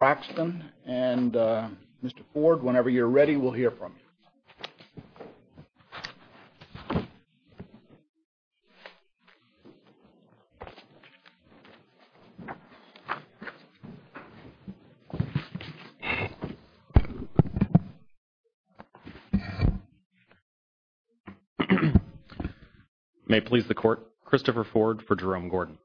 Braxton and uh Mr. Ford whenever you're ready we'll hear from you. May it please the court, Christopher Ford for Jerome Gordon.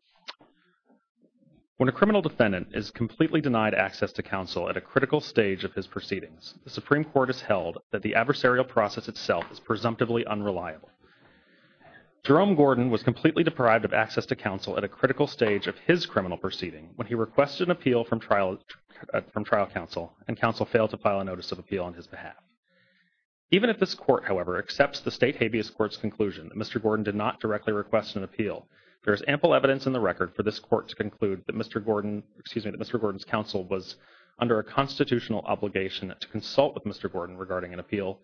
When a criminal defendant is completely denied access to counsel at a critical stage of his proceedings, the Supreme Court has held that the adversarial process itself is presumptively unreliable. Jerome Gordon was completely deprived of access to counsel at a critical stage of his criminal proceeding when he requested an appeal from trial from trial counsel and counsel failed to file a notice of appeal on his behalf. Even if this court however accepts the state habeas court's conclusion that Mr. Gordon did not directly request an appeal, there is ample evidence in the record for this court to conclude that Mr. Gordon, excuse me, that Mr. Gordon's counsel was under a constitutional obligation to consult with Mr. Gordon regarding an appeal.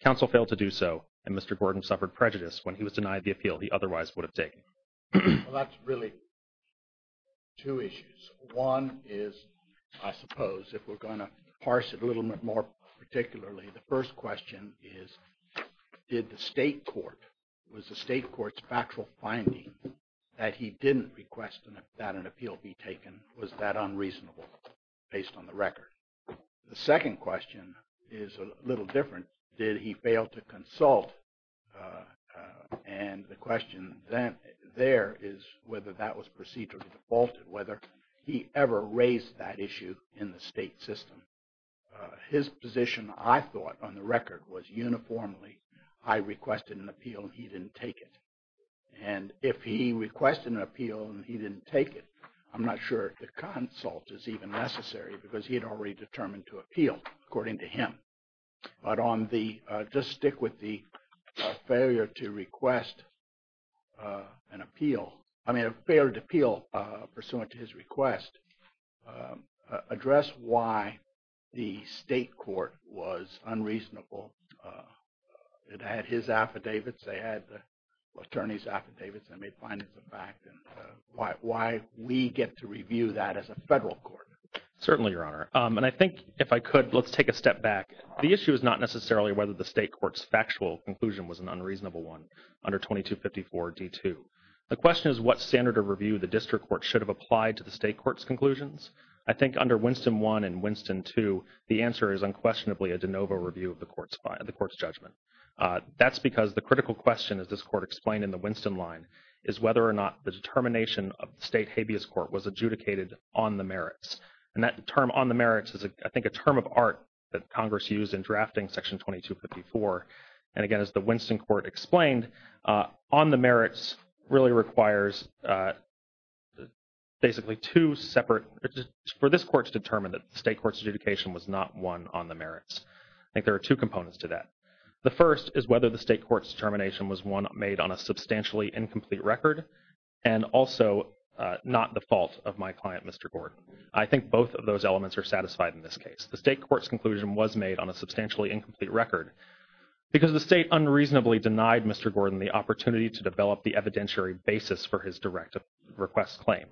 Counsel failed to do so and Mr. Gordon suffered prejudice when he was denied the appeal he otherwise would have taken. Well that's really two issues. One is I suppose if we're going to parse it a little bit more particularly, the first question is did the state court, was the state court's factual finding that he didn't request that an appeal be taken, was that unreasonable based on the record? The second question is a little different, did he fail to consult? And the question then there is whether that was procedurally defaulted, whether he ever raised that issue in the state system. His position I thought on the record was uniformly I requested an appeal and he didn't take it. And if he requested an appeal and he didn't take it, I'm not sure the consult is even necessary because he had already determined to appeal according to him. But on the, just stick with the failure to request an appeal, I mean a failed appeal pursuant to his request addressed why the state court was unreasonable. It had his affidavits, they had the attorney's affidavits, they made findings of fact and why we get to review that as a federal court. Certainly, Your Honor. And I think if I could, let's take a step back. The issue is not necessarily whether the state court's factual conclusion was an unreasonable one under 2254 D2. The question is what standard of review the district court should have applied to the state court's conclusions? I think under Winston 1 and Winston 2, the answer is unquestionably a de novo review of the court's judgment. That's because the critical question as this court explained in the Winston line is whether or not the determination of the state habeas court was adjudicated on the merits. And that term on the merits is I think a term of art that Congress used in drafting Section 2254. And again, as the Winston court explained, on the merits really requires basically two separate, for this court to determine that the state court's adjudication was not one on the merits. I think there are two components to that. The first is whether the state court's determination was one made on a substantially incomplete record and also not the fault of my client, Mr. Gordon. I think both of those elements are satisfied in this case. The state court's conclusion was made on a substantially incomplete record because the state unreasonably denied Mr. Gordon the opportunity to develop the evidentiary basis for his direct request claim.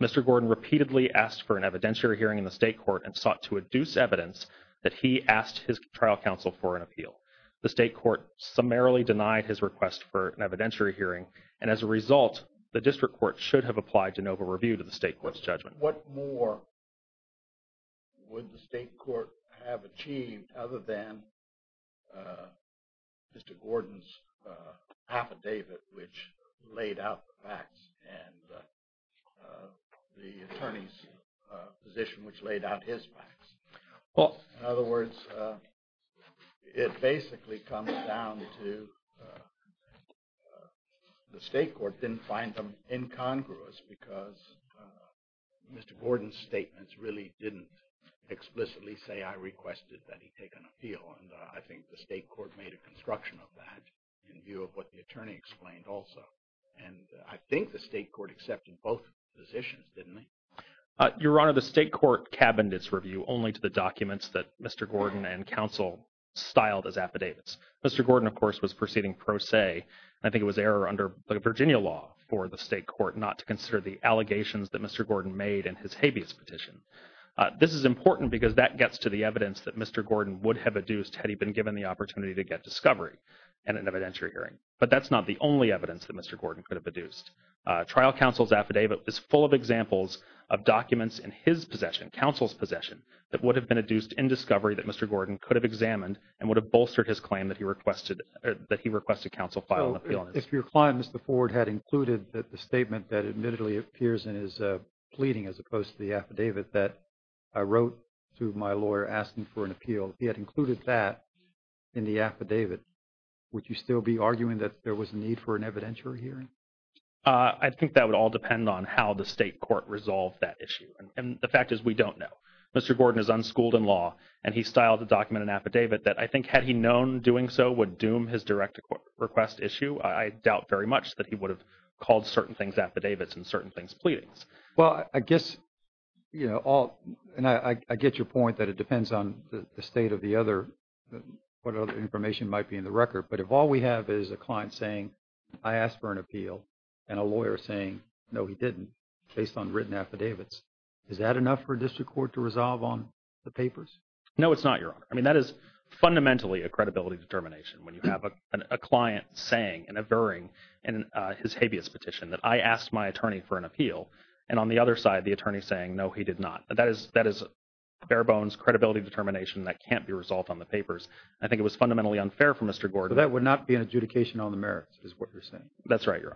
Mr. Gordon repeatedly asked for an evidentiary hearing in the state court and sought to adduce evidence that he asked his trial counsel for an appeal. The state court summarily denied his request for an evidentiary hearing and as a result, the district court should have applied an over-review to the state court's judgment. What more would the state court have achieved other than Mr. Gordon's affidavit which laid out the facts and the attorney's position which laid out his facts? In other words, it basically comes down to the state court didn't find them incongruous because Mr. Gordon's statements really didn't explicitly say I requested that he take an appeal and I think the state court made a construction of that in view of what the attorney explained also and I think the state court accepted both positions, didn't it? Your Honor, the state court cabined its review only to the documents that Mr. Gordon and counsel styled as affidavits. Mr. Gordon, of course, was proceeding pro se. I think it was error under the Virginia law for the court not to consider the allegations that Mr. Gordon made in his habeas petition. This is important because that gets to the evidence that Mr. Gordon would have adduced had he been given the opportunity to get discovery and an evidentiary hearing, but that's not the only evidence that Mr. Gordon could have adduced. Trial counsel's affidavit is full of examples of documents in his possession, counsel's possession, that would have been adduced in discovery that Mr. Gordon could have examined and would have bolstered his claim that he requested counsel file an appeal. If your client, Mr. Ford, had included that the statement that admittedly appears in his pleading as opposed to the affidavit that I wrote to my lawyer asking for an appeal, he had included that in the affidavit, would you still be arguing that there was a need for an evidentiary hearing? I think that would all depend on how the state court resolved that issue and the fact is we don't know. Mr. Gordon is unschooled in law and he styled the document affidavit that I think had he known doing so would doom his direct request issue. I doubt very much that he would have called certain things affidavits and certain things pleadings. Well, I guess, you know, all and I get your point that it depends on the state of the other, what other information might be in the record, but if all we have is a client saying I asked for an appeal and a lawyer saying no, he didn't based on written affidavits, is that enough for district court to resolve on the papers? No, it's not your honor. I mean, that is fundamentally a credibility determination when you have a client saying and averring in his habeas petition that I asked my attorney for an appeal and on the other side, the attorney saying no, he did not. That is bare bones credibility determination that can't be resolved on the papers. I think it was fundamentally unfair for Mr. Gordon. But that would not be an adjudication on the merits is what you're saying. That's right, your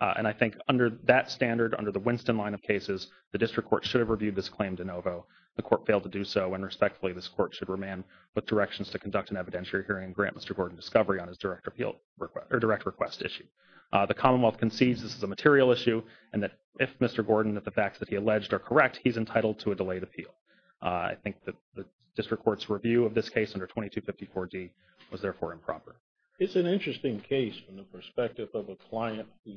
honor. And I think under that standard, under the Winston line of cases, the district court should have reviewed this claim de novo. The court failed to do so and respectfully, this court should remain with directions to conduct an evidentiary hearing and grant Mr. Gordon discovery on his direct appeal request or direct request issue. The Commonwealth concedes this is a material issue and that if Mr. Gordon that the facts that he alleged are correct, he's entitled to a delayed appeal. I think that the district court's review of this case under 2254 D was therefore improper. It's an interesting case from the perspective of a client who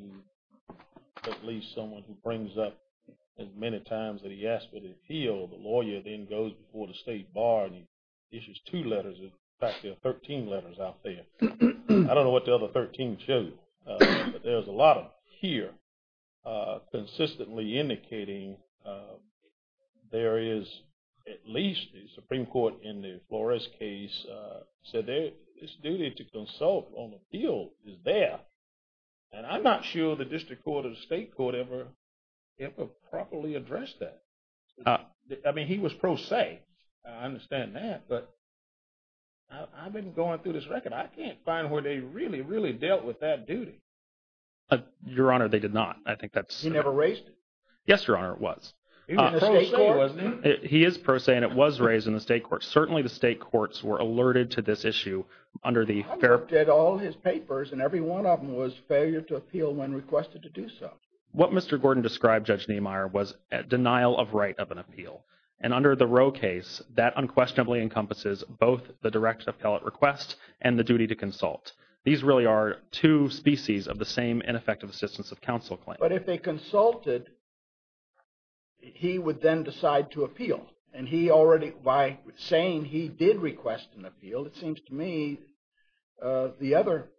at least someone who brings up as many times that he asked for the appeal. The lawyer then goes before the state bar and he issues two letters. In fact, there are 13 letters out there. I don't know what the other 13 shows, but there's a lot of here consistently indicating there is at least the Supreme Court in the Flores case said this duty to consult on the appeal is there. And I'm not sure the district court or the state court ever properly addressed that. I mean, he was pro se. I understand that, but I've been going through this record. I can't find where they really, really dealt with that duty. Your Honor, they did not. I think that's... He never raised it. Yes, Your Honor, it was. He was pro se, wasn't he? He is pro se and it was raised in the state court. Certainly the state courts were alerted to this issue under the... I looked at all his papers and every one of them was failure to appeal when requested to do so. What Mr. Gordon described, Judge Niemeyer, was a denial of right of an appeal. And under the Roe case, that unquestionably encompasses both the direct appellate request and the duty to consult. These really are two species of the same ineffective assistance of counsel claim. But if they consulted, he would then decide to appeal. And he already by saying he did request an appeal, it seems to me the other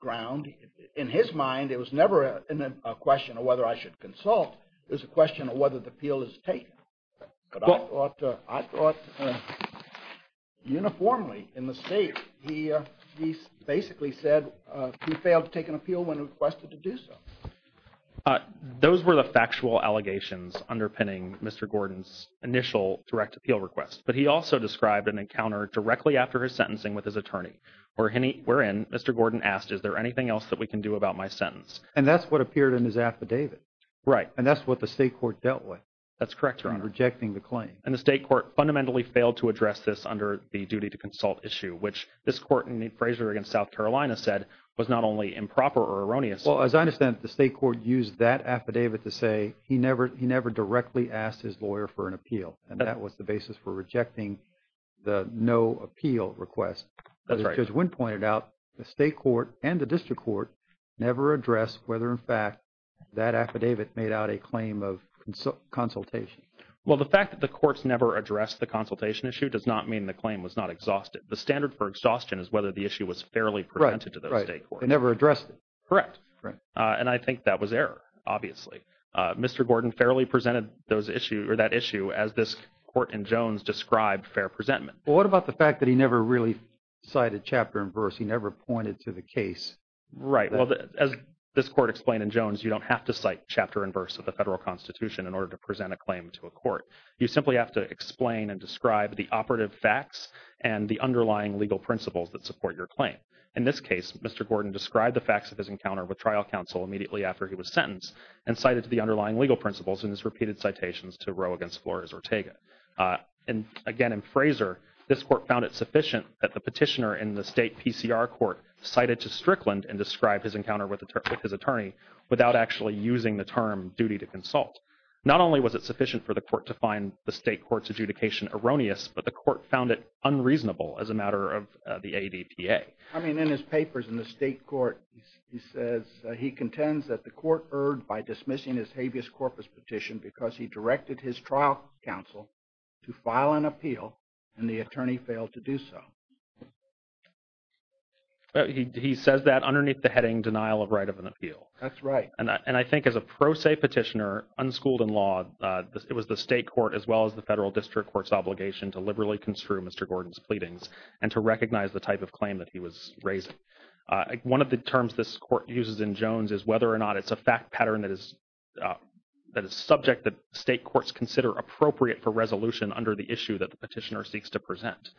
ground, in his mind, it was never a question of whether I should consult. It was a question of whether the appeal is taken. But I thought uniformly in the state, he basically said he failed to take an appeal when requested to do so. Those were the factual allegations underpinning Mr. Gordon's initial direct appeal request. But he also described an encounter directly after his sentencing with his attorney. Wherein, Mr. Gordon asked, is there anything else that we can do about my sentence? And that's what appeared in his affidavit. Right. And that's what the state court dealt with. That's correct, Your Honor. Rejecting the claim. And the state court fundamentally failed to address this under the duty to consult issue, which this court in the appraiser against South Carolina said was not only improper or erroneous. Well, as I understand it, the state court used that affidavit to say he never directly asked his lawyer for an appeal. And that was the basis for rejecting the no appeal request. That's right. As Judge Wynn pointed out, the state court and the district court never addressed whether, in fact, that affidavit made out a claim of consultation. Well, the fact that the courts never addressed the consultation issue does not mean the claim was not exhausted. The standard for exhaustion is whether the issue was fairly presented to those state courts. They never addressed it. Correct. And I think that was error, obviously. Mr. Gordon fairly presented that issue as this court in Jones described fair presentment. Well, what about the fact that he never really cited chapter and verse? He never pointed to the case. Right. Well, as this court explained in Jones, you don't have to cite chapter and verse of the federal constitution in order to present a claim to a court. You simply have to explain and describe the operative facts and the underlying legal principles that support your claim. In this Mr. Gordon described the facts of his encounter with trial counsel immediately after he was sentenced and cited the underlying legal principles in his repeated citations to Roe against Flores or Tega. And again, in Fraser, this court found it sufficient that the petitioner in the state PCR court cited to Strickland and described his encounter with his attorney without actually using the term duty to consult. Not only was it sufficient for the court to find the state court's adjudication erroneous, but the court found it unreasonable as a matter of the ADPA. I mean, in his papers in the state court, he says he contends that the court erred by dismissing his habeas corpus petition because he directed his trial counsel to file an appeal and the attorney failed to do so. He says that underneath the heading denial of right of an appeal. That's right. And I think as a pro se petitioner, unschooled in law, it was the state court as well as the federal district court's obligation to liberally construe Mr. Gordon's pleadings and to recognize the type of claim that he was raising. One of the terms this court uses in Jones is whether or not it's a fact pattern that is subject that state courts consider appropriate for resolution under the issue that the petitioner seeks to present.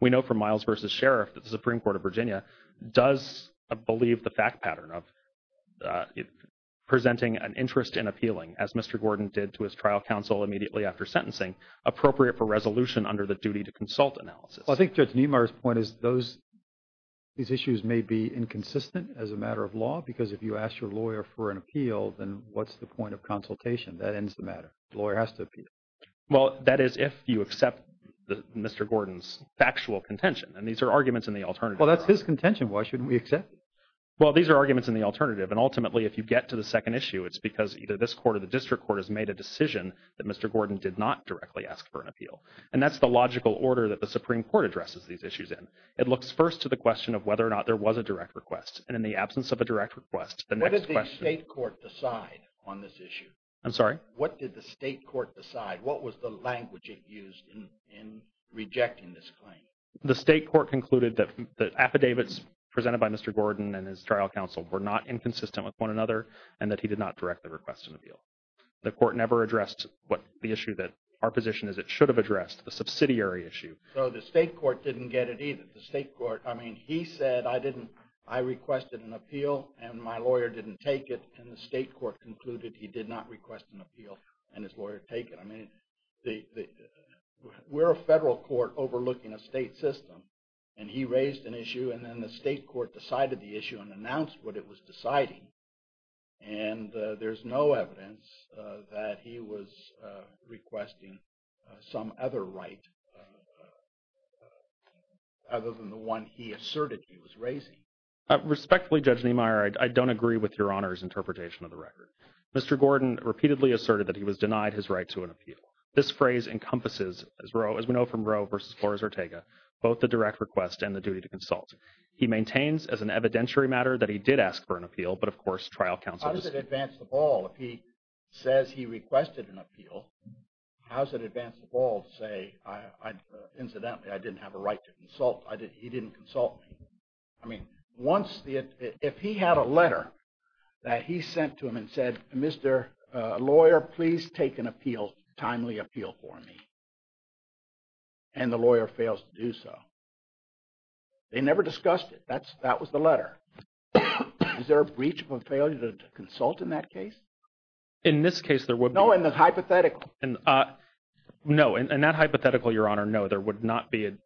We know from Miles versus Sheriff, the Supreme Court of Virginia does believe the fact pattern of presenting an interest in appealing as Mr. Gordon did to his trial counsel immediately after sentencing, appropriate for resolution under the duty to consult analysis. I think Judge Niemeyer's point is these issues may be inconsistent as a matter of law because if you ask your lawyer for an appeal, then what's the point of consultation? That ends the matter. The lawyer has to appeal. Well, that is if you accept Mr. Gordon's factual contention. And these are arguments in the alternative. Well, that's his contention. Why shouldn't we accept it? Well, these are arguments in the alternative. And ultimately, if you get to the second issue, it's because either this court or the district court has made a decision that Mr. Gordon did not directly ask for an appeal. And that's the logical order that the Supreme Court addresses these issues in. It looks first to the question of whether or not there was a direct request. And in the absence of a direct request, the next question- What did the state court decide on this issue? I'm sorry? What did the state court decide? What was the language it used in rejecting this claim? The state court concluded that the affidavits presented by Mr. Gordon and his trial counsel were not inconsistent with one another and that he did not directly request an appeal. The court never addressed what the issue that our position is it should have addressed, the subsidiary issue. So the state court didn't get it either. The state court, I mean, he said, I requested an appeal and my lawyer didn't take it. And the state court concluded he did not request an appeal and his lawyer take it. I mean, we're a federal court overlooking a state system. And he raised an issue. And then the state court decided the issue and announced what it was deciding. And there's no evidence that he was requesting some other right other than the one he asserted he was raising. Respectfully, Judge Niemeyer, I don't agree with Your Honor's interpretation of the record. Mr. Gordon repeatedly asserted that he was denied his right to an appeal. This phrase encompasses, as we know from Roe versus Flores-Ortega, both the direct request and the duty to consult. He maintains as an evidentiary matter that he did ask for an appeal. But, of course, trial counsel- How does it advance the ball if he says he requested an appeal? How does it advance the ball to say, incidentally, I didn't have a right to consult? He didn't consult me. I mean, if he had a letter that he sent to him and said, Mr. Lawyer, please take an appeal, timely appeal for me. And the lawyer fails to do so. They never discussed it. That was the letter. Is there a breach or failure to consult in that case? In this case, there would be- No, in the hypothetical. No, in that hypothetical, Your Honor, no, there would not be a-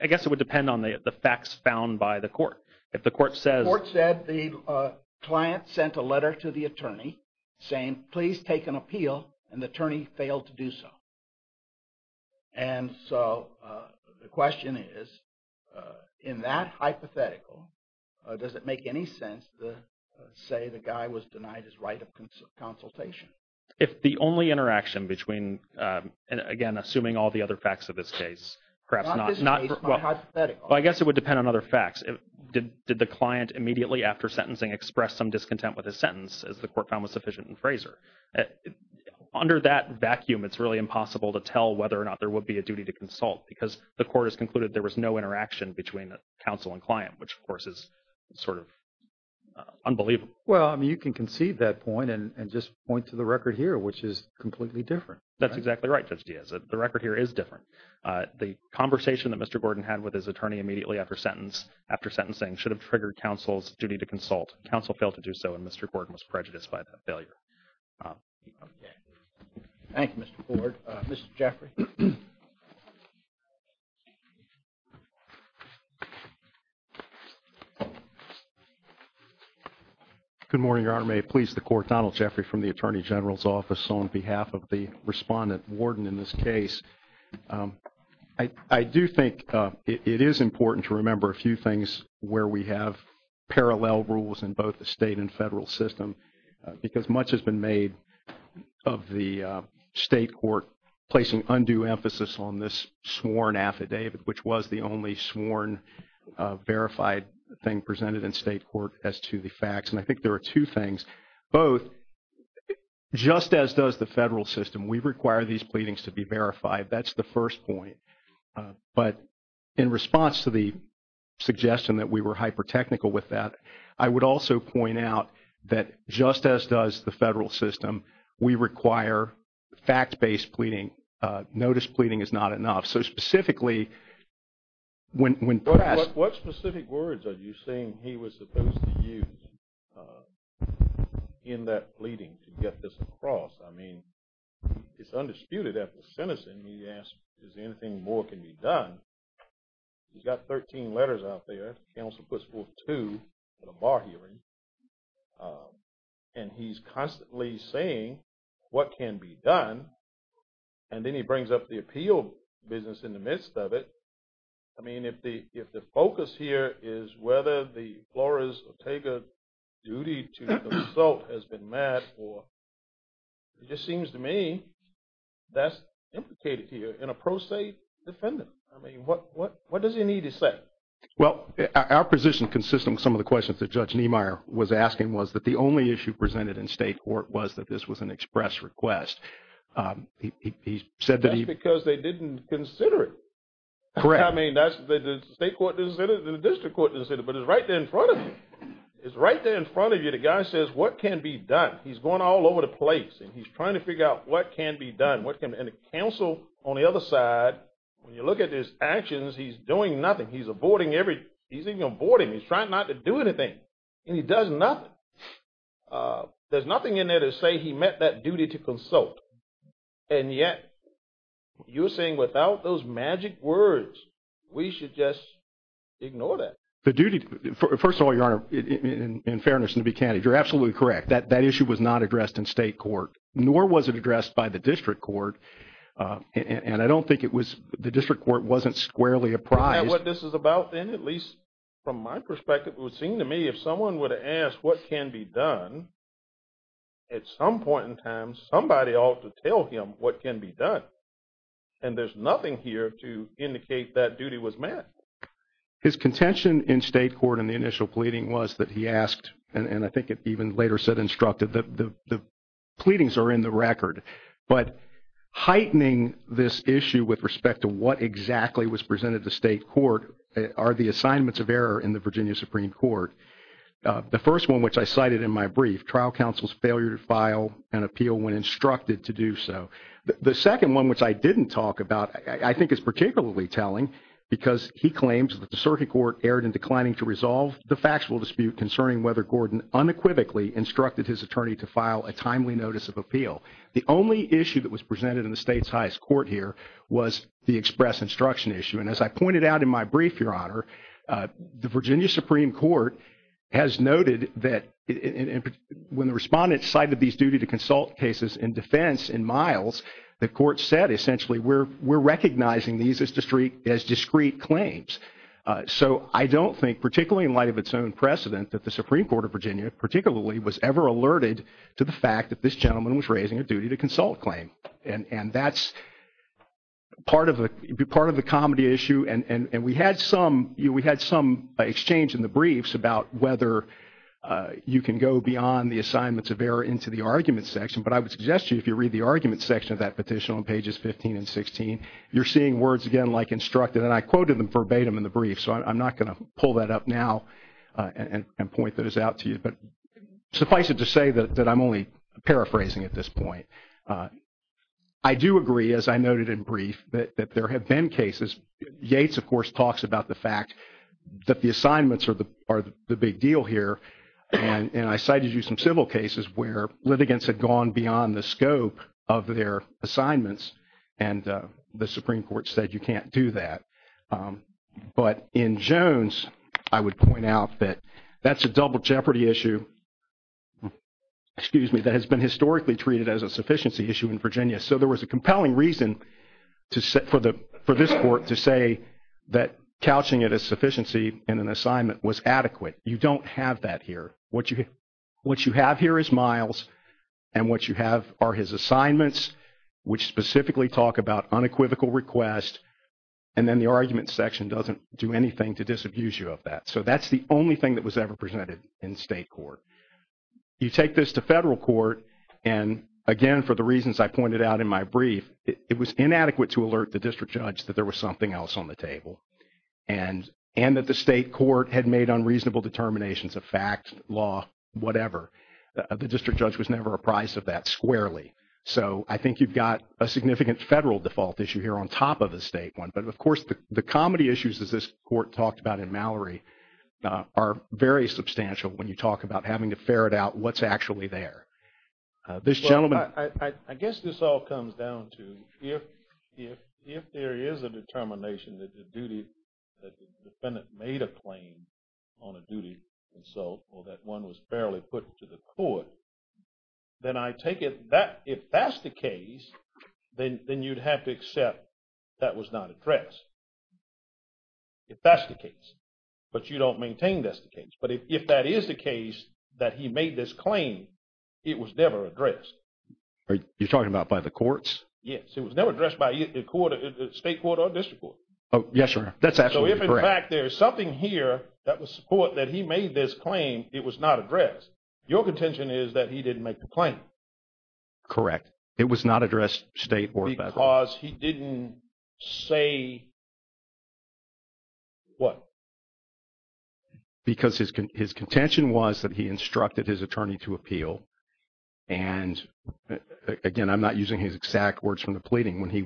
I guess it would depend on the facts found by the court. If the court says- If the court said the client sent a letter to the attorney saying, please take an appeal, and the attorney failed to do so. And so the question is, in that hypothetical, does it make any sense to say the guy was denied his right of consultation? If the only interaction between, again, assuming all the other facts of this case, perhaps not- Not this case, not hypothetical. Well, I guess it would depend on other facts. Did the client immediately after sentencing express some discontent with his sentence as the court found was sufficient in Fraser? Under that vacuum, it's really impossible to tell whether or not there would be a duty to consult because the court has concluded there was no interaction between counsel and client, which, of course, is sort of unbelievable. Well, I mean, you can concede that point and just point to the record here, which is completely different. That's exactly right, Judge Diaz. The record here is different. The conversation that Mr. Gordon had with his attorney immediately after sentencing should have triggered counsel's duty to consult. Counsel failed to do so, and Mr. Gordon was prejudiced by that failure. Okay. Thank you, Mr. Ford. Mr. Jeffrey. Good morning, Your Honor. May it please the court, Donald Jeffrey from the Attorney General's Office, on behalf of the respondent warden in this case. I do think it is important to remember a few things where we have parallel rules in both the state and federal system because much has been made of the state court placing undue emphasis on this sworn affidavit, which was the only sworn verified thing presented in state court as to the facts. And I think there are two things. Both, just as does the federal system, we require these pleadings to be verified. That's the first point. But in response to the suggestion that we were hyper-technical with that, I would also point out that just as does the federal system, we require fact-based pleading. Notice pleading is not enough. So specifically, when perhaps... What specific words are you saying he was supposed to use in that pleading to get this across? I mean, it's undisputed after sentencing, he asked, is there anything more can be done? He's got 13 letters out there. Counsel puts forth two at a bar hearing. And he's constantly saying what can be done. And then he brings up the appeal business in the midst of it. I mean, if the focus here is whether the Flores-Ortega duty to consult has been met or... It just seems to me that's implicated here in a pro se defendant. I mean, what does he need to say? Well, our position consists of some of the questions that Judge Niemeyer was asking was that the only issue presented in state court was that this was an express request. He said that he... That's because they didn't consider it. Correct. I mean, the state court didn't consider it, the district court didn't consider it. But it's right there in front of you. It's right there in front of you. The guy says, what can be done? He's going all over the place. And he's trying to figure out what can be done. What can... And the counsel on the other side, when you look at his actions, he's doing nothing. He's avoiding every... He's even avoiding... He's trying not to do anything. And he does nothing. There's nothing in there to say he met that duty to consult. And yet, you're saying without those magic words, we should just ignore that. The duty... First of all, Your Honor, in fairness and to be candid, you're absolutely correct. That issue was not addressed in state court, nor was it addressed by the district court. And I don't think it was... The district court wasn't squarely apprised. Isn't that what this is about then? At least from my perspective, it would seem to me if someone were to ask what can be done, at some point in time, somebody ought to tell him what can be done. And there's nothing here to indicate that duty was met. His contention in state court in the initial pleading was that he asked, and I think it even later said instructed that the pleadings are in the record. But heightening this issue with respect to what exactly was presented to state court are the assignments of error in the Virginia Supreme Court. The first one, which I cited in my brief, trial counsel's failure to file an appeal when instructed to do so. The second one, which I didn't talk about, I think is particularly telling, because he claims that the circuit court erred in declining to resolve the factual dispute concerning whether Gordon unequivocally instructed his attorney to file a timely notice of appeal. The only issue that was presented in the state's highest court here was the express instruction issue. And as I pointed out in my brief, Your Honor, the Virginia Supreme Court has noted that when the respondents cited these duty to consult cases in defense in miles, the court said essentially we're recognizing these as discrete claims. So I don't think, particularly in light of its own precedent, that the Supreme Court of Virginia particularly was ever alerted to the fact that this gentleman was raising a duty to consult claim. And that's part of the comedy issue. And we had some exchange in the briefs about whether you can go beyond the assignments of error into the argument section. But I would suggest to you if you read the argument section of that petition on pages 15 and 16, you're seeing words, again, like instructed. And I quoted them verbatim in the brief. So I'm not going to pull that up now and point those out to you. But suffice it to say that I'm only paraphrasing at this point. I do agree, as I noted in brief, that there have been cases. Yates, of course, talks about the fact that the assignments are the big deal here. And I cited you some civil cases where litigants had gone beyond the scope of their assignments. And the Supreme Court said you can't do that. But in Jones, I would point out that that's a double jeopardy issue, excuse me, that has been historically treated as a sufficiency issue in Virginia. So there was a compelling reason for this court to say that couching it as sufficiency in an assignment was adequate. You don't have that here. What you have here is Miles. And what you have are his assignments, which specifically talk about unequivocal request. And then the argument section doesn't do anything to disabuse you of that. So that's the only thing that was ever presented in state court. You take this to federal court. And again, for the reasons I pointed out in my brief, it was inadequate to alert the district judge that there was something else on the table. And that the state court had made unreasonable determinations of fact, law, whatever. The district judge was never apprised of that squarely. So I think you've got a significant federal default issue here on top of the state one. But of course, the comedy issues, as this court talked about in Mallory, are very substantial when you talk about having to ferret out what's actually there. This gentleman. Well, I guess this all comes down to if there is a determination that the duty, that the defendant made a claim on a duty consult or that one was fairly put to the court, then I take it that if that's the case, then you'd have to accept that was not addressed. If that's the case. But you don't maintain that's the case. But if that is the case, that he made this claim, it was never addressed. You're talking about by the courts? Yes, it was never addressed by the court, state court or district court. Oh, yes, sir. That's absolutely correct. So if in fact there's something here that was support that he made this claim, it was not addressed. Your contention is that he didn't make the claim. Correct. It was not addressed state or district. Because he didn't say what? Because his contention was that he instructed his attorney to appeal. And again, I'm not using his exact words from the pleading. When he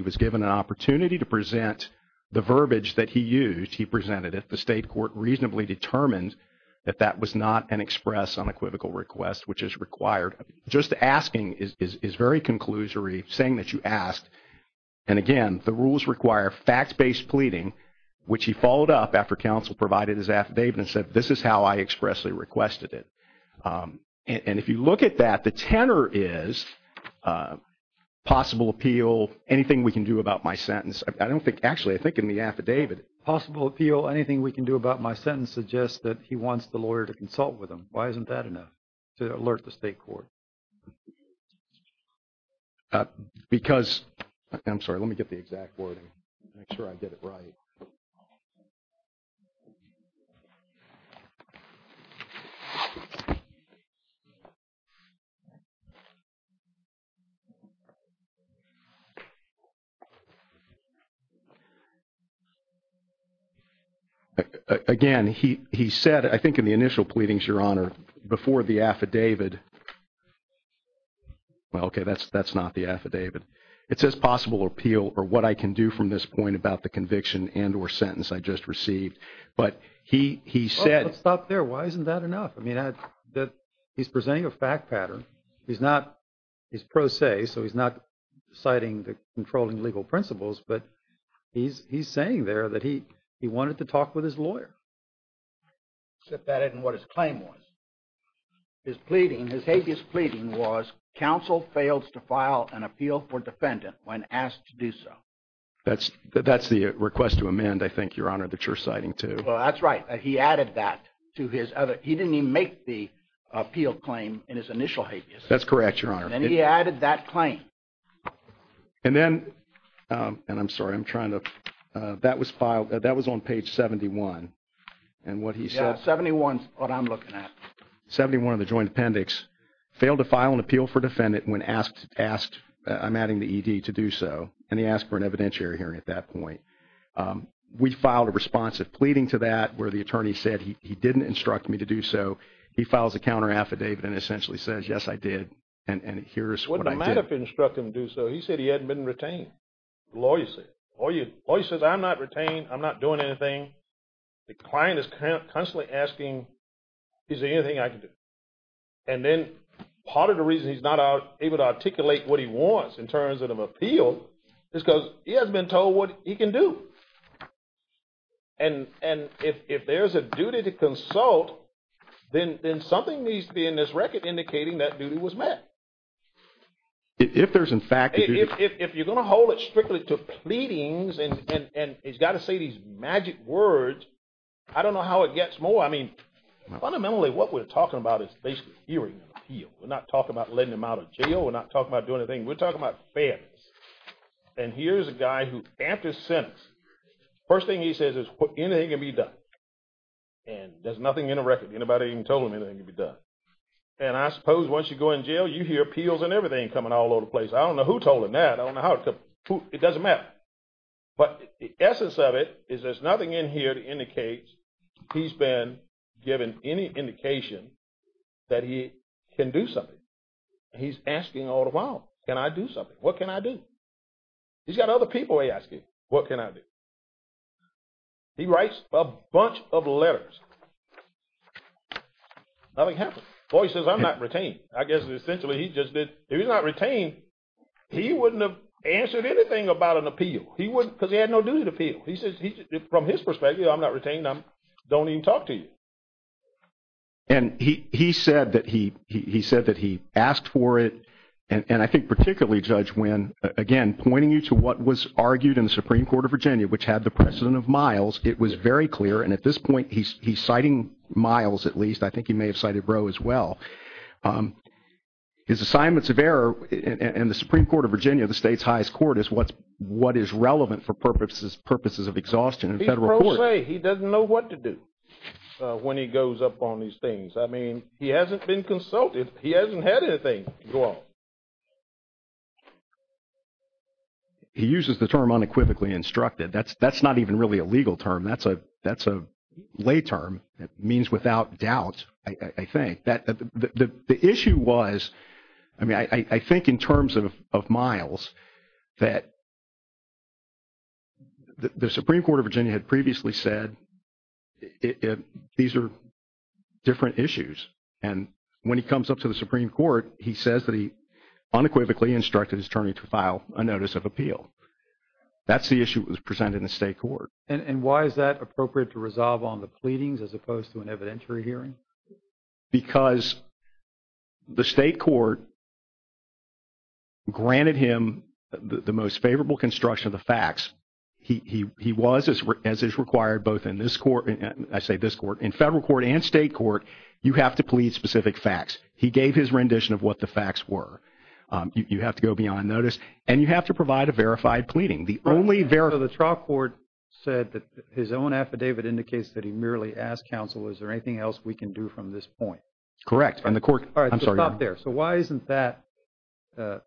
was given an opportunity to present the verbiage that he used, the state court reasonably determined that that was not an express unequivocal request, which is required. Just asking is very conclusory, saying that you asked. And again, the rules require fact-based pleading, which he followed up after counsel provided his affidavit and said, this is how I expressly requested it. And if you look at that, the tenor is possible appeal, anything we can do about my sentence. I don't think, actually, I think in the affidavit. Possible appeal, anything we can do about my sentence suggests that he wants the lawyer to consult with him. Why isn't that enough to alert the state court? Because, I'm sorry. Let me get the exact wording. Make sure I get it right. Again, he said, I think in the initial pleadings, Your Honor, before the affidavit. Well, okay, that's not the affidavit. It says possible appeal or what I can do from this point about the conviction and or sentence I just received. But he said. Let's stop there. Why isn't that enough? I mean, he's presenting a fact pattern. He's not, he's pro se, so he's not citing the controlling legal principles. But he's saying there that he wanted to talk with his lawyer. Except that isn't what his claim was. His pleading, his habeas pleading was counsel fails to file an appeal for defendant when asked to do so. That's the request to amend, I think, Your Honor, that you're citing too. Well, that's right. He added that to his other. He didn't even make the appeal claim in his initial habeas. That's correct, Your Honor. And he added that claim. And then, and I'm sorry, I'm trying to, that was filed. That was on page 71. And what he said. 71 is what I'm looking at. 71 of the joint appendix. Failed to file an appeal for defendant when asked, I'm adding the ED to do so. And he asked for an evidentiary hearing at that point. We filed a responsive pleading to that where the attorney said he didn't instruct me to do so. He files a counter affidavit and essentially says, yes, I did. And here's what I did. I didn't instruct him to do so. He said he hadn't been retained. The lawyer says, I'm not retained. I'm not doing anything. The client is constantly asking, is there anything I can do? And then part of the reason he's not able to articulate what he wants in terms of an appeal is because he hasn't been told what he can do. And if there's a duty to consult, then something needs to be in this record indicating that duty was met. If there's in fact a duty. If you're going to hold it strictly to pleadings and he's got to say these magic words, I don't know how it gets more. I mean, fundamentally what we're talking about is basically hearing an appeal. We're not talking about letting him out of jail. We're not talking about doing anything. We're talking about fairness. And here's a guy who amped his sentence. First thing he says is anything can be done. And there's nothing in a record. Anybody even told him anything can be done. And I suppose once you go in jail, you hear appeals and everything coming all over the place. I don't know who told him that. I don't know how it comes. It doesn't matter. But the essence of it is there's nothing in here to indicate he's been given any indication that he can do something. He's asking all the while, can I do something? What can I do? He's got other people he's asking, what can I do? He writes a bunch of letters. Nothing happened. Well, he says, I'm not retained. I guess essentially he just did. If he's not retained, he wouldn't have answered anything about an appeal. He wouldn't, because he had no duty to appeal. He says, from his perspective, I'm not retained. I don't even talk to you. And he said that he asked for it. And I think particularly, Judge Wynn, again, pointing you to what was argued in the Supreme Court of Virginia, which had the precedent of Miles, it was very clear. And at this point, he's citing Miles, at least. I think he may have cited Roe as well. His assignments of error in the Supreme Court of Virginia, the state's highest court, is what is relevant for purposes of exhaustion in federal court. He doesn't know what to do when he goes up on these things. I mean, he hasn't been consulted. He hasn't had anything go on. He uses the term unequivocally instructed. That's not even really a legal term. That's a lay term. It means without doubt, I think. The issue was, I mean, I think in terms of Miles, that the Supreme Court of Virginia had previously said these are different issues. And when he comes up to the Supreme Court, he says that he unequivocally instructed his attorney to file a notice of appeal. That's the issue that was presented in the state court. And why is that appropriate to resolve on the pleadings as opposed to an evidentiary hearing? Because the state court granted him the most favorable construction of the facts. He was, as is required both in this court, I say this court, in federal court and state court, you have to plead specific facts. He gave his rendition of what the facts were. You have to go beyond notice. And you have to provide a verified pleading. The trial court said that his own affidavit indicates that he merely asked counsel, is there anything else we can do from this point? Correct. And the court, I'm sorry, not there. So why isn't that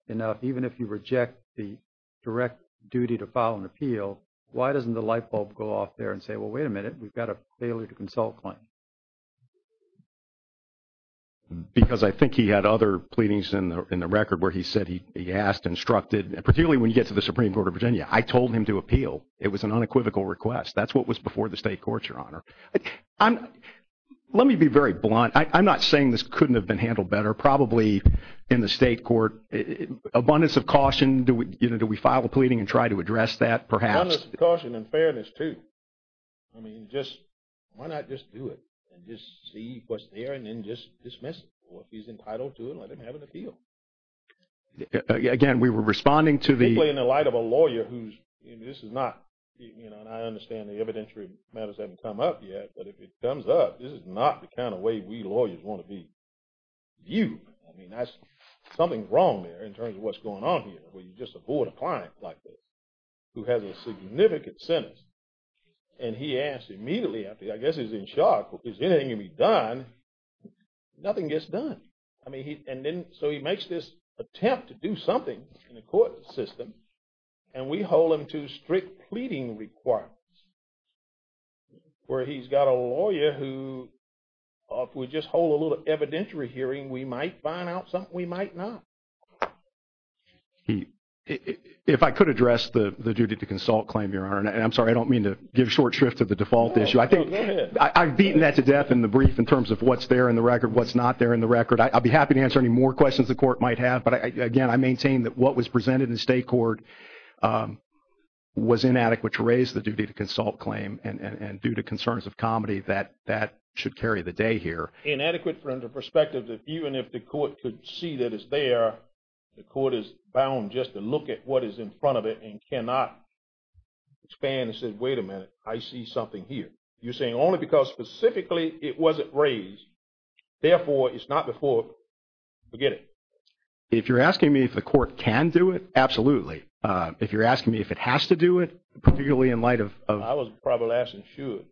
enough? Even if you reject the direct duty to file an appeal, why doesn't the light bulb go off there and say, well, wait a minute, we've got a failure to consult claim? Because I think he had other pleadings in the record where he said he asked, instructed, particularly when you get to the Supreme Court of Virginia, I told him to appeal. It was an unequivocal request. That's what was before the state court, Your Honor. Let me be very blunt. I'm not saying this couldn't have been handled better. Probably in the state court, abundance of caution, do we file a pleading and try to address that perhaps? Abundance of caution and fairness too. I mean, why not just do it and just see what's there and then just dismiss it? Or if he's entitled to it, let him have an appeal. Again, we were responding to the- Simply in the light of a lawyer who's, this is not, and I understand the evidentiary matters haven't come up yet, but if it comes up, this is not the kind of way we lawyers want to be viewed. I mean, that's something wrong there in terms of what's going on here where you just avoid a client like this who has a significant sentence. And he asked immediately after, I guess he's in shock, is anything going to be done? Nothing gets done. And then, so he makes this attempt to do something in the court system and we hold him to strict pleading requirements where he's got a lawyer who, if we just hold a little evidentiary hearing, we might find out something we might not. If I could address the duty to consult claim here, and I'm sorry, I don't mean to give short shrift to the default issue. I think I've beaten that to death in the brief in terms of what's there in the record, what's not there in the record. I'll be happy to answer any more questions the court might have. But again, I maintain that what was presented in state court was inadequate to raise the duty to consult claim. And due to concerns of comedy, that should carry the day here. Inadequate from the perspective that even if the court could see that it's there, the court is bound just to look at what is in front of it and cannot expand and say, wait a minute, I see something here. You're saying only because specifically it wasn't raised. Therefore, it's not before, forget it. If you're asking me if the court can do it, absolutely. If you're asking me if it has to do it, particularly in light of- I was probably asking should.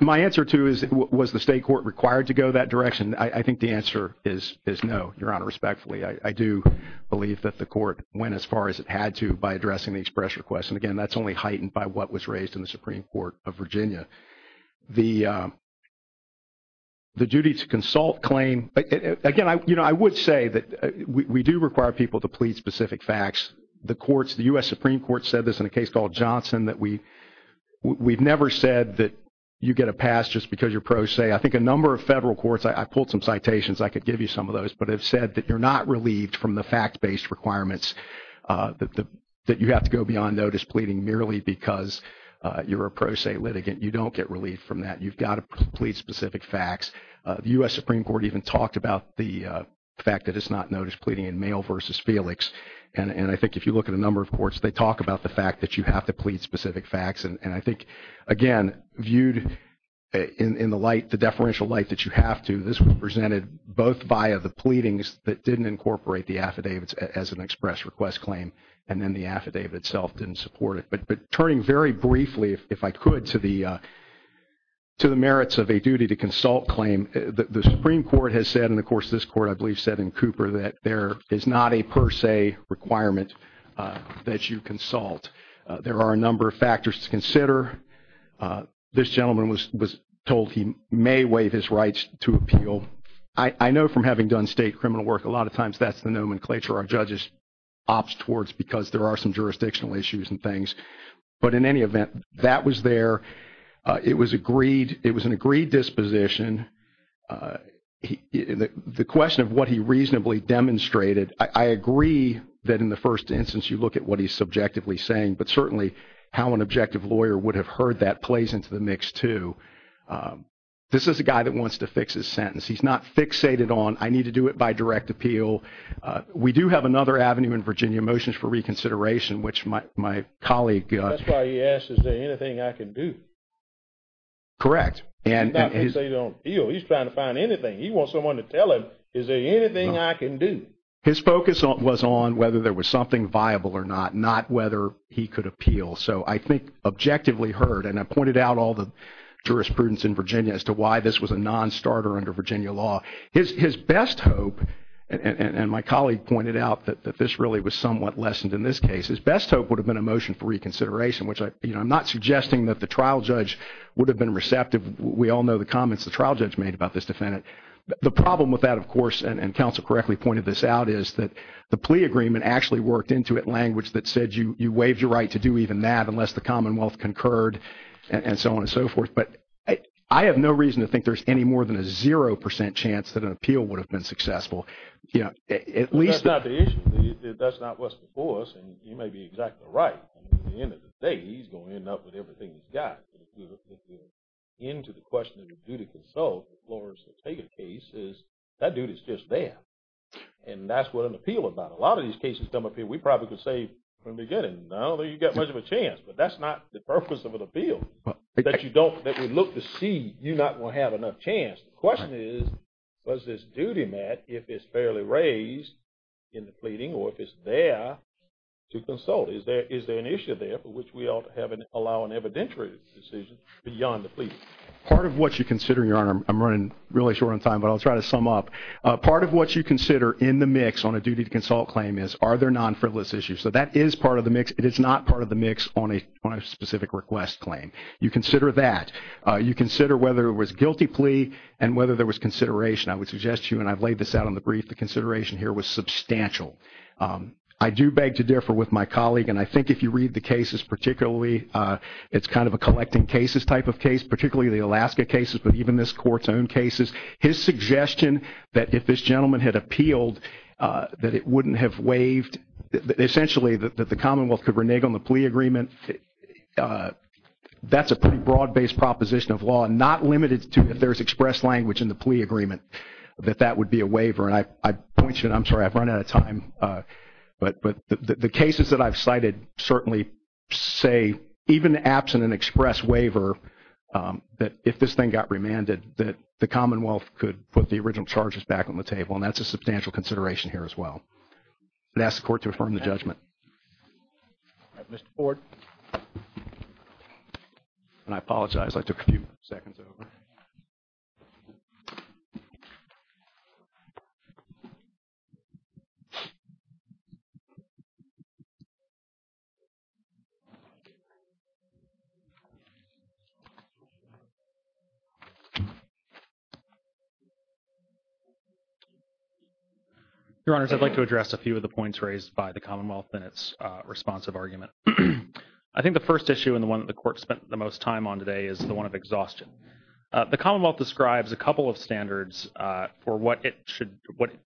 My answer to is, was the state court required to go that direction? I think the answer is no, Your Honor, respectfully. I do believe that the court went as far as it had to by addressing the express request. Again, that's only heightened by what was raised in the Supreme Court of Virginia. The duty to consult claim, again, I would say that we do require people to plead specific facts. The courts, the U.S. Supreme Court said this in a case called Johnson that we've never said that you get a pass just because your pros say. I think a number of federal courts, I pulled some citations, I could give you some of those, but have said that you're not relieved from the fact-based requirements that you have to go beyond notice pleading merely because you're a pro se litigant. You don't get relief from that. You've got to plead specific facts. The U.S. Supreme Court even talked about the fact that it's not notice pleading in Mayo versus Felix. And I think if you look at a number of courts, they talk about the fact that you have to plead specific facts. And I think, again, viewed in the light, the deferential light that you have to, this was presented both via the pleadings that didn't incorporate the affidavits as an express request claim and then the affidavit itself didn't support it. But turning very briefly, if I could, to the merits of a duty to consult claim, the Supreme Court has said, and, of course, this court, I believe, said in Cooper that there is not a per se requirement that you consult. There are a number of factors to consider. This gentleman was told he may waive his rights to appeal. I know from having done state criminal work, a lot of times that's the nomenclature our because there are some jurisdictional issues and things. But in any event, that was there. It was an agreed disposition. The question of what he reasonably demonstrated, I agree that in the first instance you look at what he's subjectively saying, but certainly how an objective lawyer would have heard that plays into the mix, too. This is a guy that wants to fix his sentence. He's not fixated on, I need to do it by direct appeal. We do have another avenue in Virginia, Motions for Reconsideration, which my colleague- That's why he asked, is there anything I can do? Correct. He's not fixated on appeal. He's trying to find anything. He wants someone to tell him, is there anything I can do? His focus was on whether there was something viable or not, not whether he could appeal. So I think objectively heard, and I pointed out all the jurisprudence in Virginia as to why this was a non-starter under Virginia law. His best hope, and my colleague pointed out that this really was somewhat lessened in this case, his best hope would have been a Motion for Reconsideration, which I'm not suggesting that the trial judge would have been receptive. We all know the comments the trial judge made about this defendant. The problem with that, of course, and counsel correctly pointed this out, is that the plea agreement actually worked into it language that said you waived your right to do even that unless the Commonwealth concurred, and so on and so forth. But I have no reason to think there's any more than a 0% chance that an appeal would have been successful. At least... That's not the issue. That's not what's before us, and you may be exactly right. At the end of the day, he's going to end up with everything he's got. But if we're into the question of the duty of consult, the floor is to take a case, that duty is just there. And that's what an appeal is about. A lot of these cases come up here. We probably could say from the beginning, no, you don't get much of a chance. But that's not the purpose of an appeal. Part of what you consider, Your Honor, I'm running really short on time, but I'll try to sum up. Part of what you consider in the mix on a duty to consult claim is, are there non-frivolous issues? So that is part of the mix. It is not part of the mix on a specific request claim. You consider that. You consider whether it was guilty plea and whether there was consideration. I would suggest to you, and I've laid this out on the brief, the consideration here was substantial. I do beg to differ with my colleague, and I think if you read the cases particularly, it's kind of a collecting cases type of case, particularly the Alaska cases, but even this court's own cases. His suggestion that if this gentleman had appealed, that it wouldn't have waived, essentially that the Commonwealth could renege on the plea agreement, that's a pretty broad-based proposition of law, not limited to if there's expressed language in the plea agreement, that that would be a waiver. And I point you, and I'm sorry, I've run out of time, but the cases that I've cited certainly say even absent an express waiver, that if this thing got remanded, that the Commonwealth could put the original charges back on the table, and that's a substantial consideration here as well. I'd ask the court to affirm the judgment. All right, Mr. Ford. And I apologize, I took a few seconds over. Your Honors, I'd like to address a few of the points raised by the Commonwealth in its responsive argument. I think the first issue and the one that the court spent the most time on today is the Commonwealth describes a couple of standards for what it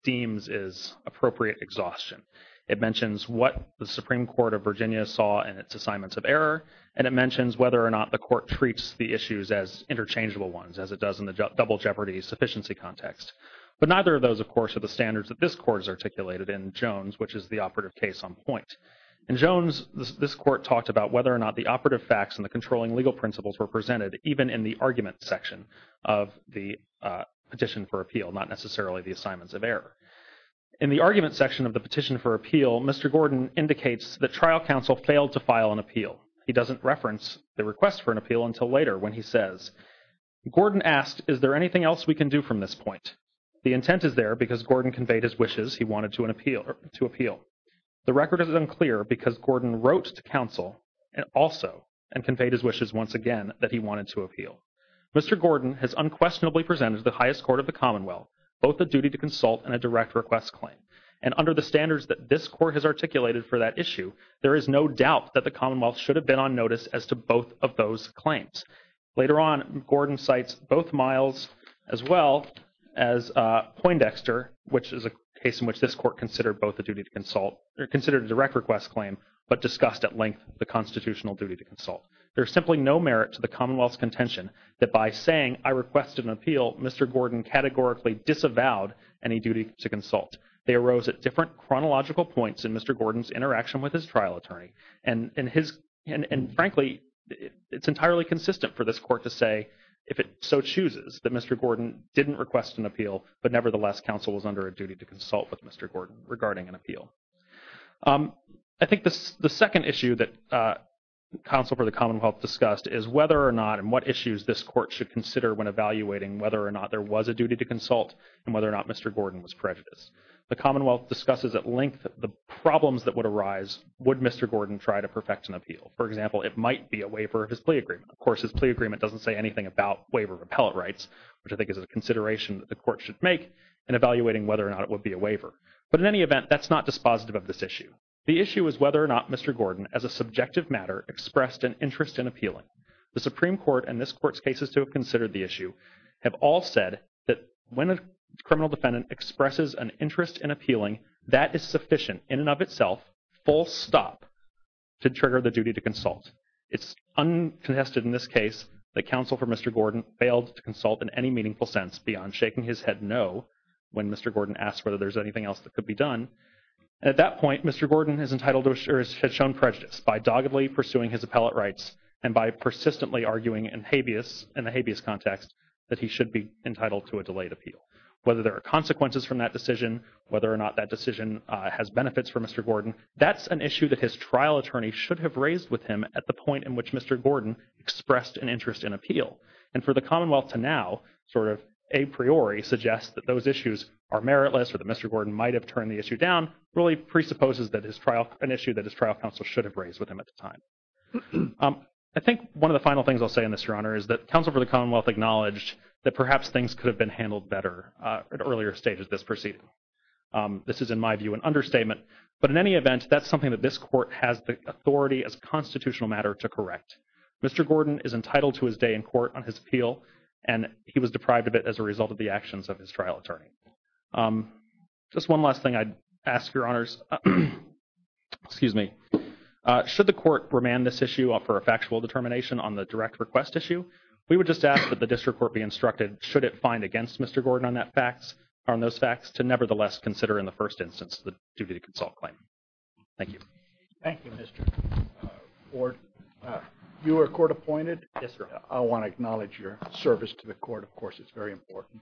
deems is appropriate exhaustion. It mentions what the Supreme Court of Virginia saw in its assignments of error, and it mentions whether or not the court treats the issues as interchangeable ones, as it does in the double jeopardy sufficiency context. But neither of those, of course, are the standards that this court has articulated in Jones, which is the operative case on point. In Jones, this court talked about whether or not the operative facts and the controlling legal principles were presented, even in the argument section of the petition for appeal, not necessarily the assignments of error. In the argument section of the petition for appeal, Mr. Gordon indicates that trial counsel failed to file an appeal. He doesn't reference the request for an appeal until later when he says, Gordon asked, is there anything else we can do from this point? The intent is there because Gordon conveyed his wishes he wanted to appeal. The record is unclear because Gordon wrote to counsel also and conveyed his wishes once again that he wanted to appeal. Mr. Gordon has unquestionably presented to the highest court of the Commonwealth both the duty to consult and a direct request claim, and under the standards that this court has articulated for that issue, there is no doubt that the Commonwealth should have been on notice as to both of those claims. Later on, Gordon cites both Miles as well as Poindexter, which is a case in which this court considered a direct request claim but discussed at length the constitutional duty to consult. There is simply no merit to the Commonwealth's contention that by saying, I request an appeal, Mr. Gordon categorically disavowed any duty to consult. They arose at different chronological points in Mr. Gordon's interaction with his trial attorney and frankly, it's entirely consistent for this court to say if it so chooses that Mr. Gordon didn't request an appeal, but nevertheless, counsel was under a duty to consult with Mr. Gordon to make an appeal. I think the second issue that counsel for the Commonwealth discussed is whether or not and what issues this court should consider when evaluating whether or not there was a duty to consult and whether or not Mr. Gordon was prejudiced. The Commonwealth discusses at length the problems that would arise would Mr. Gordon try to perfect an appeal. For example, it might be a waiver of his plea agreement. Of course, his plea agreement doesn't say anything about waiver of appellate rights, which I think is a consideration that the court should make in evaluating whether or not it would be a waiver. But in any event, that's not dispositive of this issue. The issue is whether or not Mr. Gordon, as a subjective matter, expressed an interest in appealing. The Supreme Court and this court's cases to have considered the issue have all said that when a criminal defendant expresses an interest in appealing, that is sufficient in and of itself, full stop, to trigger the duty to consult. It's uncontested in this case that counsel for Mr. Gordon failed to consult in any meaningful sense beyond shaking his head no when Mr. Gordon asked whether there's anything else that could be done. And at that point, Mr. Gordon has entitled or has shown prejudice by doggedly pursuing his appellate rights and by persistently arguing in the habeas context that he should be entitled to a delayed appeal. Whether there are consequences from that decision, whether or not that decision has benefits for Mr. Gordon, that's an issue that his trial attorney should have raised with him at the point in which Mr. Gordon expressed an interest in appeal. And for the Commonwealth to now sort of a priori suggest that those issues are meritless or that Mr. Gordon might have turned the issue down really presupposes that an issue that his trial counsel should have raised with him at the time. I think one of the final things I'll say in this, Your Honor, is that counsel for the Commonwealth acknowledged that perhaps things could have been handled better at earlier stages of this proceeding. This is, in my view, an understatement. But in any event, that's something that this court has the authority as a constitutional matter to correct. Mr. Gordon is entitled to his day in court on his appeal, and he was deprived of it as a result of the actions of his trial attorney. Just one last thing I'd ask, Your Honors, should the court remand this issue for a factual determination on the direct request issue, we would just ask that the district court be instructed should it find against Mr. Gordon on those facts to nevertheless consider in the first instance the duty to consult claim. Thank you. Thank you, Mr. Gordon. You were court appointed? Yes, sir. I want to acknowledge your service to the court, of course, it's very important.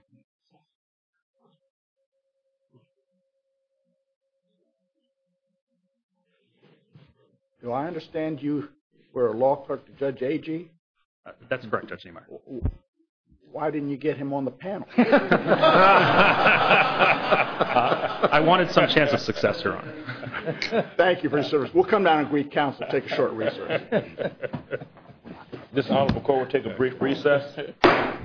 Do I understand you were a law clerk to Judge Agee? That's correct, Judge Ameyer. Why didn't you get him on the panel? I wanted some chance of success, Your Honor. Thank you for your service. We'll come down and greet counsel and take a short recess. This Honorable Court will take a brief recess.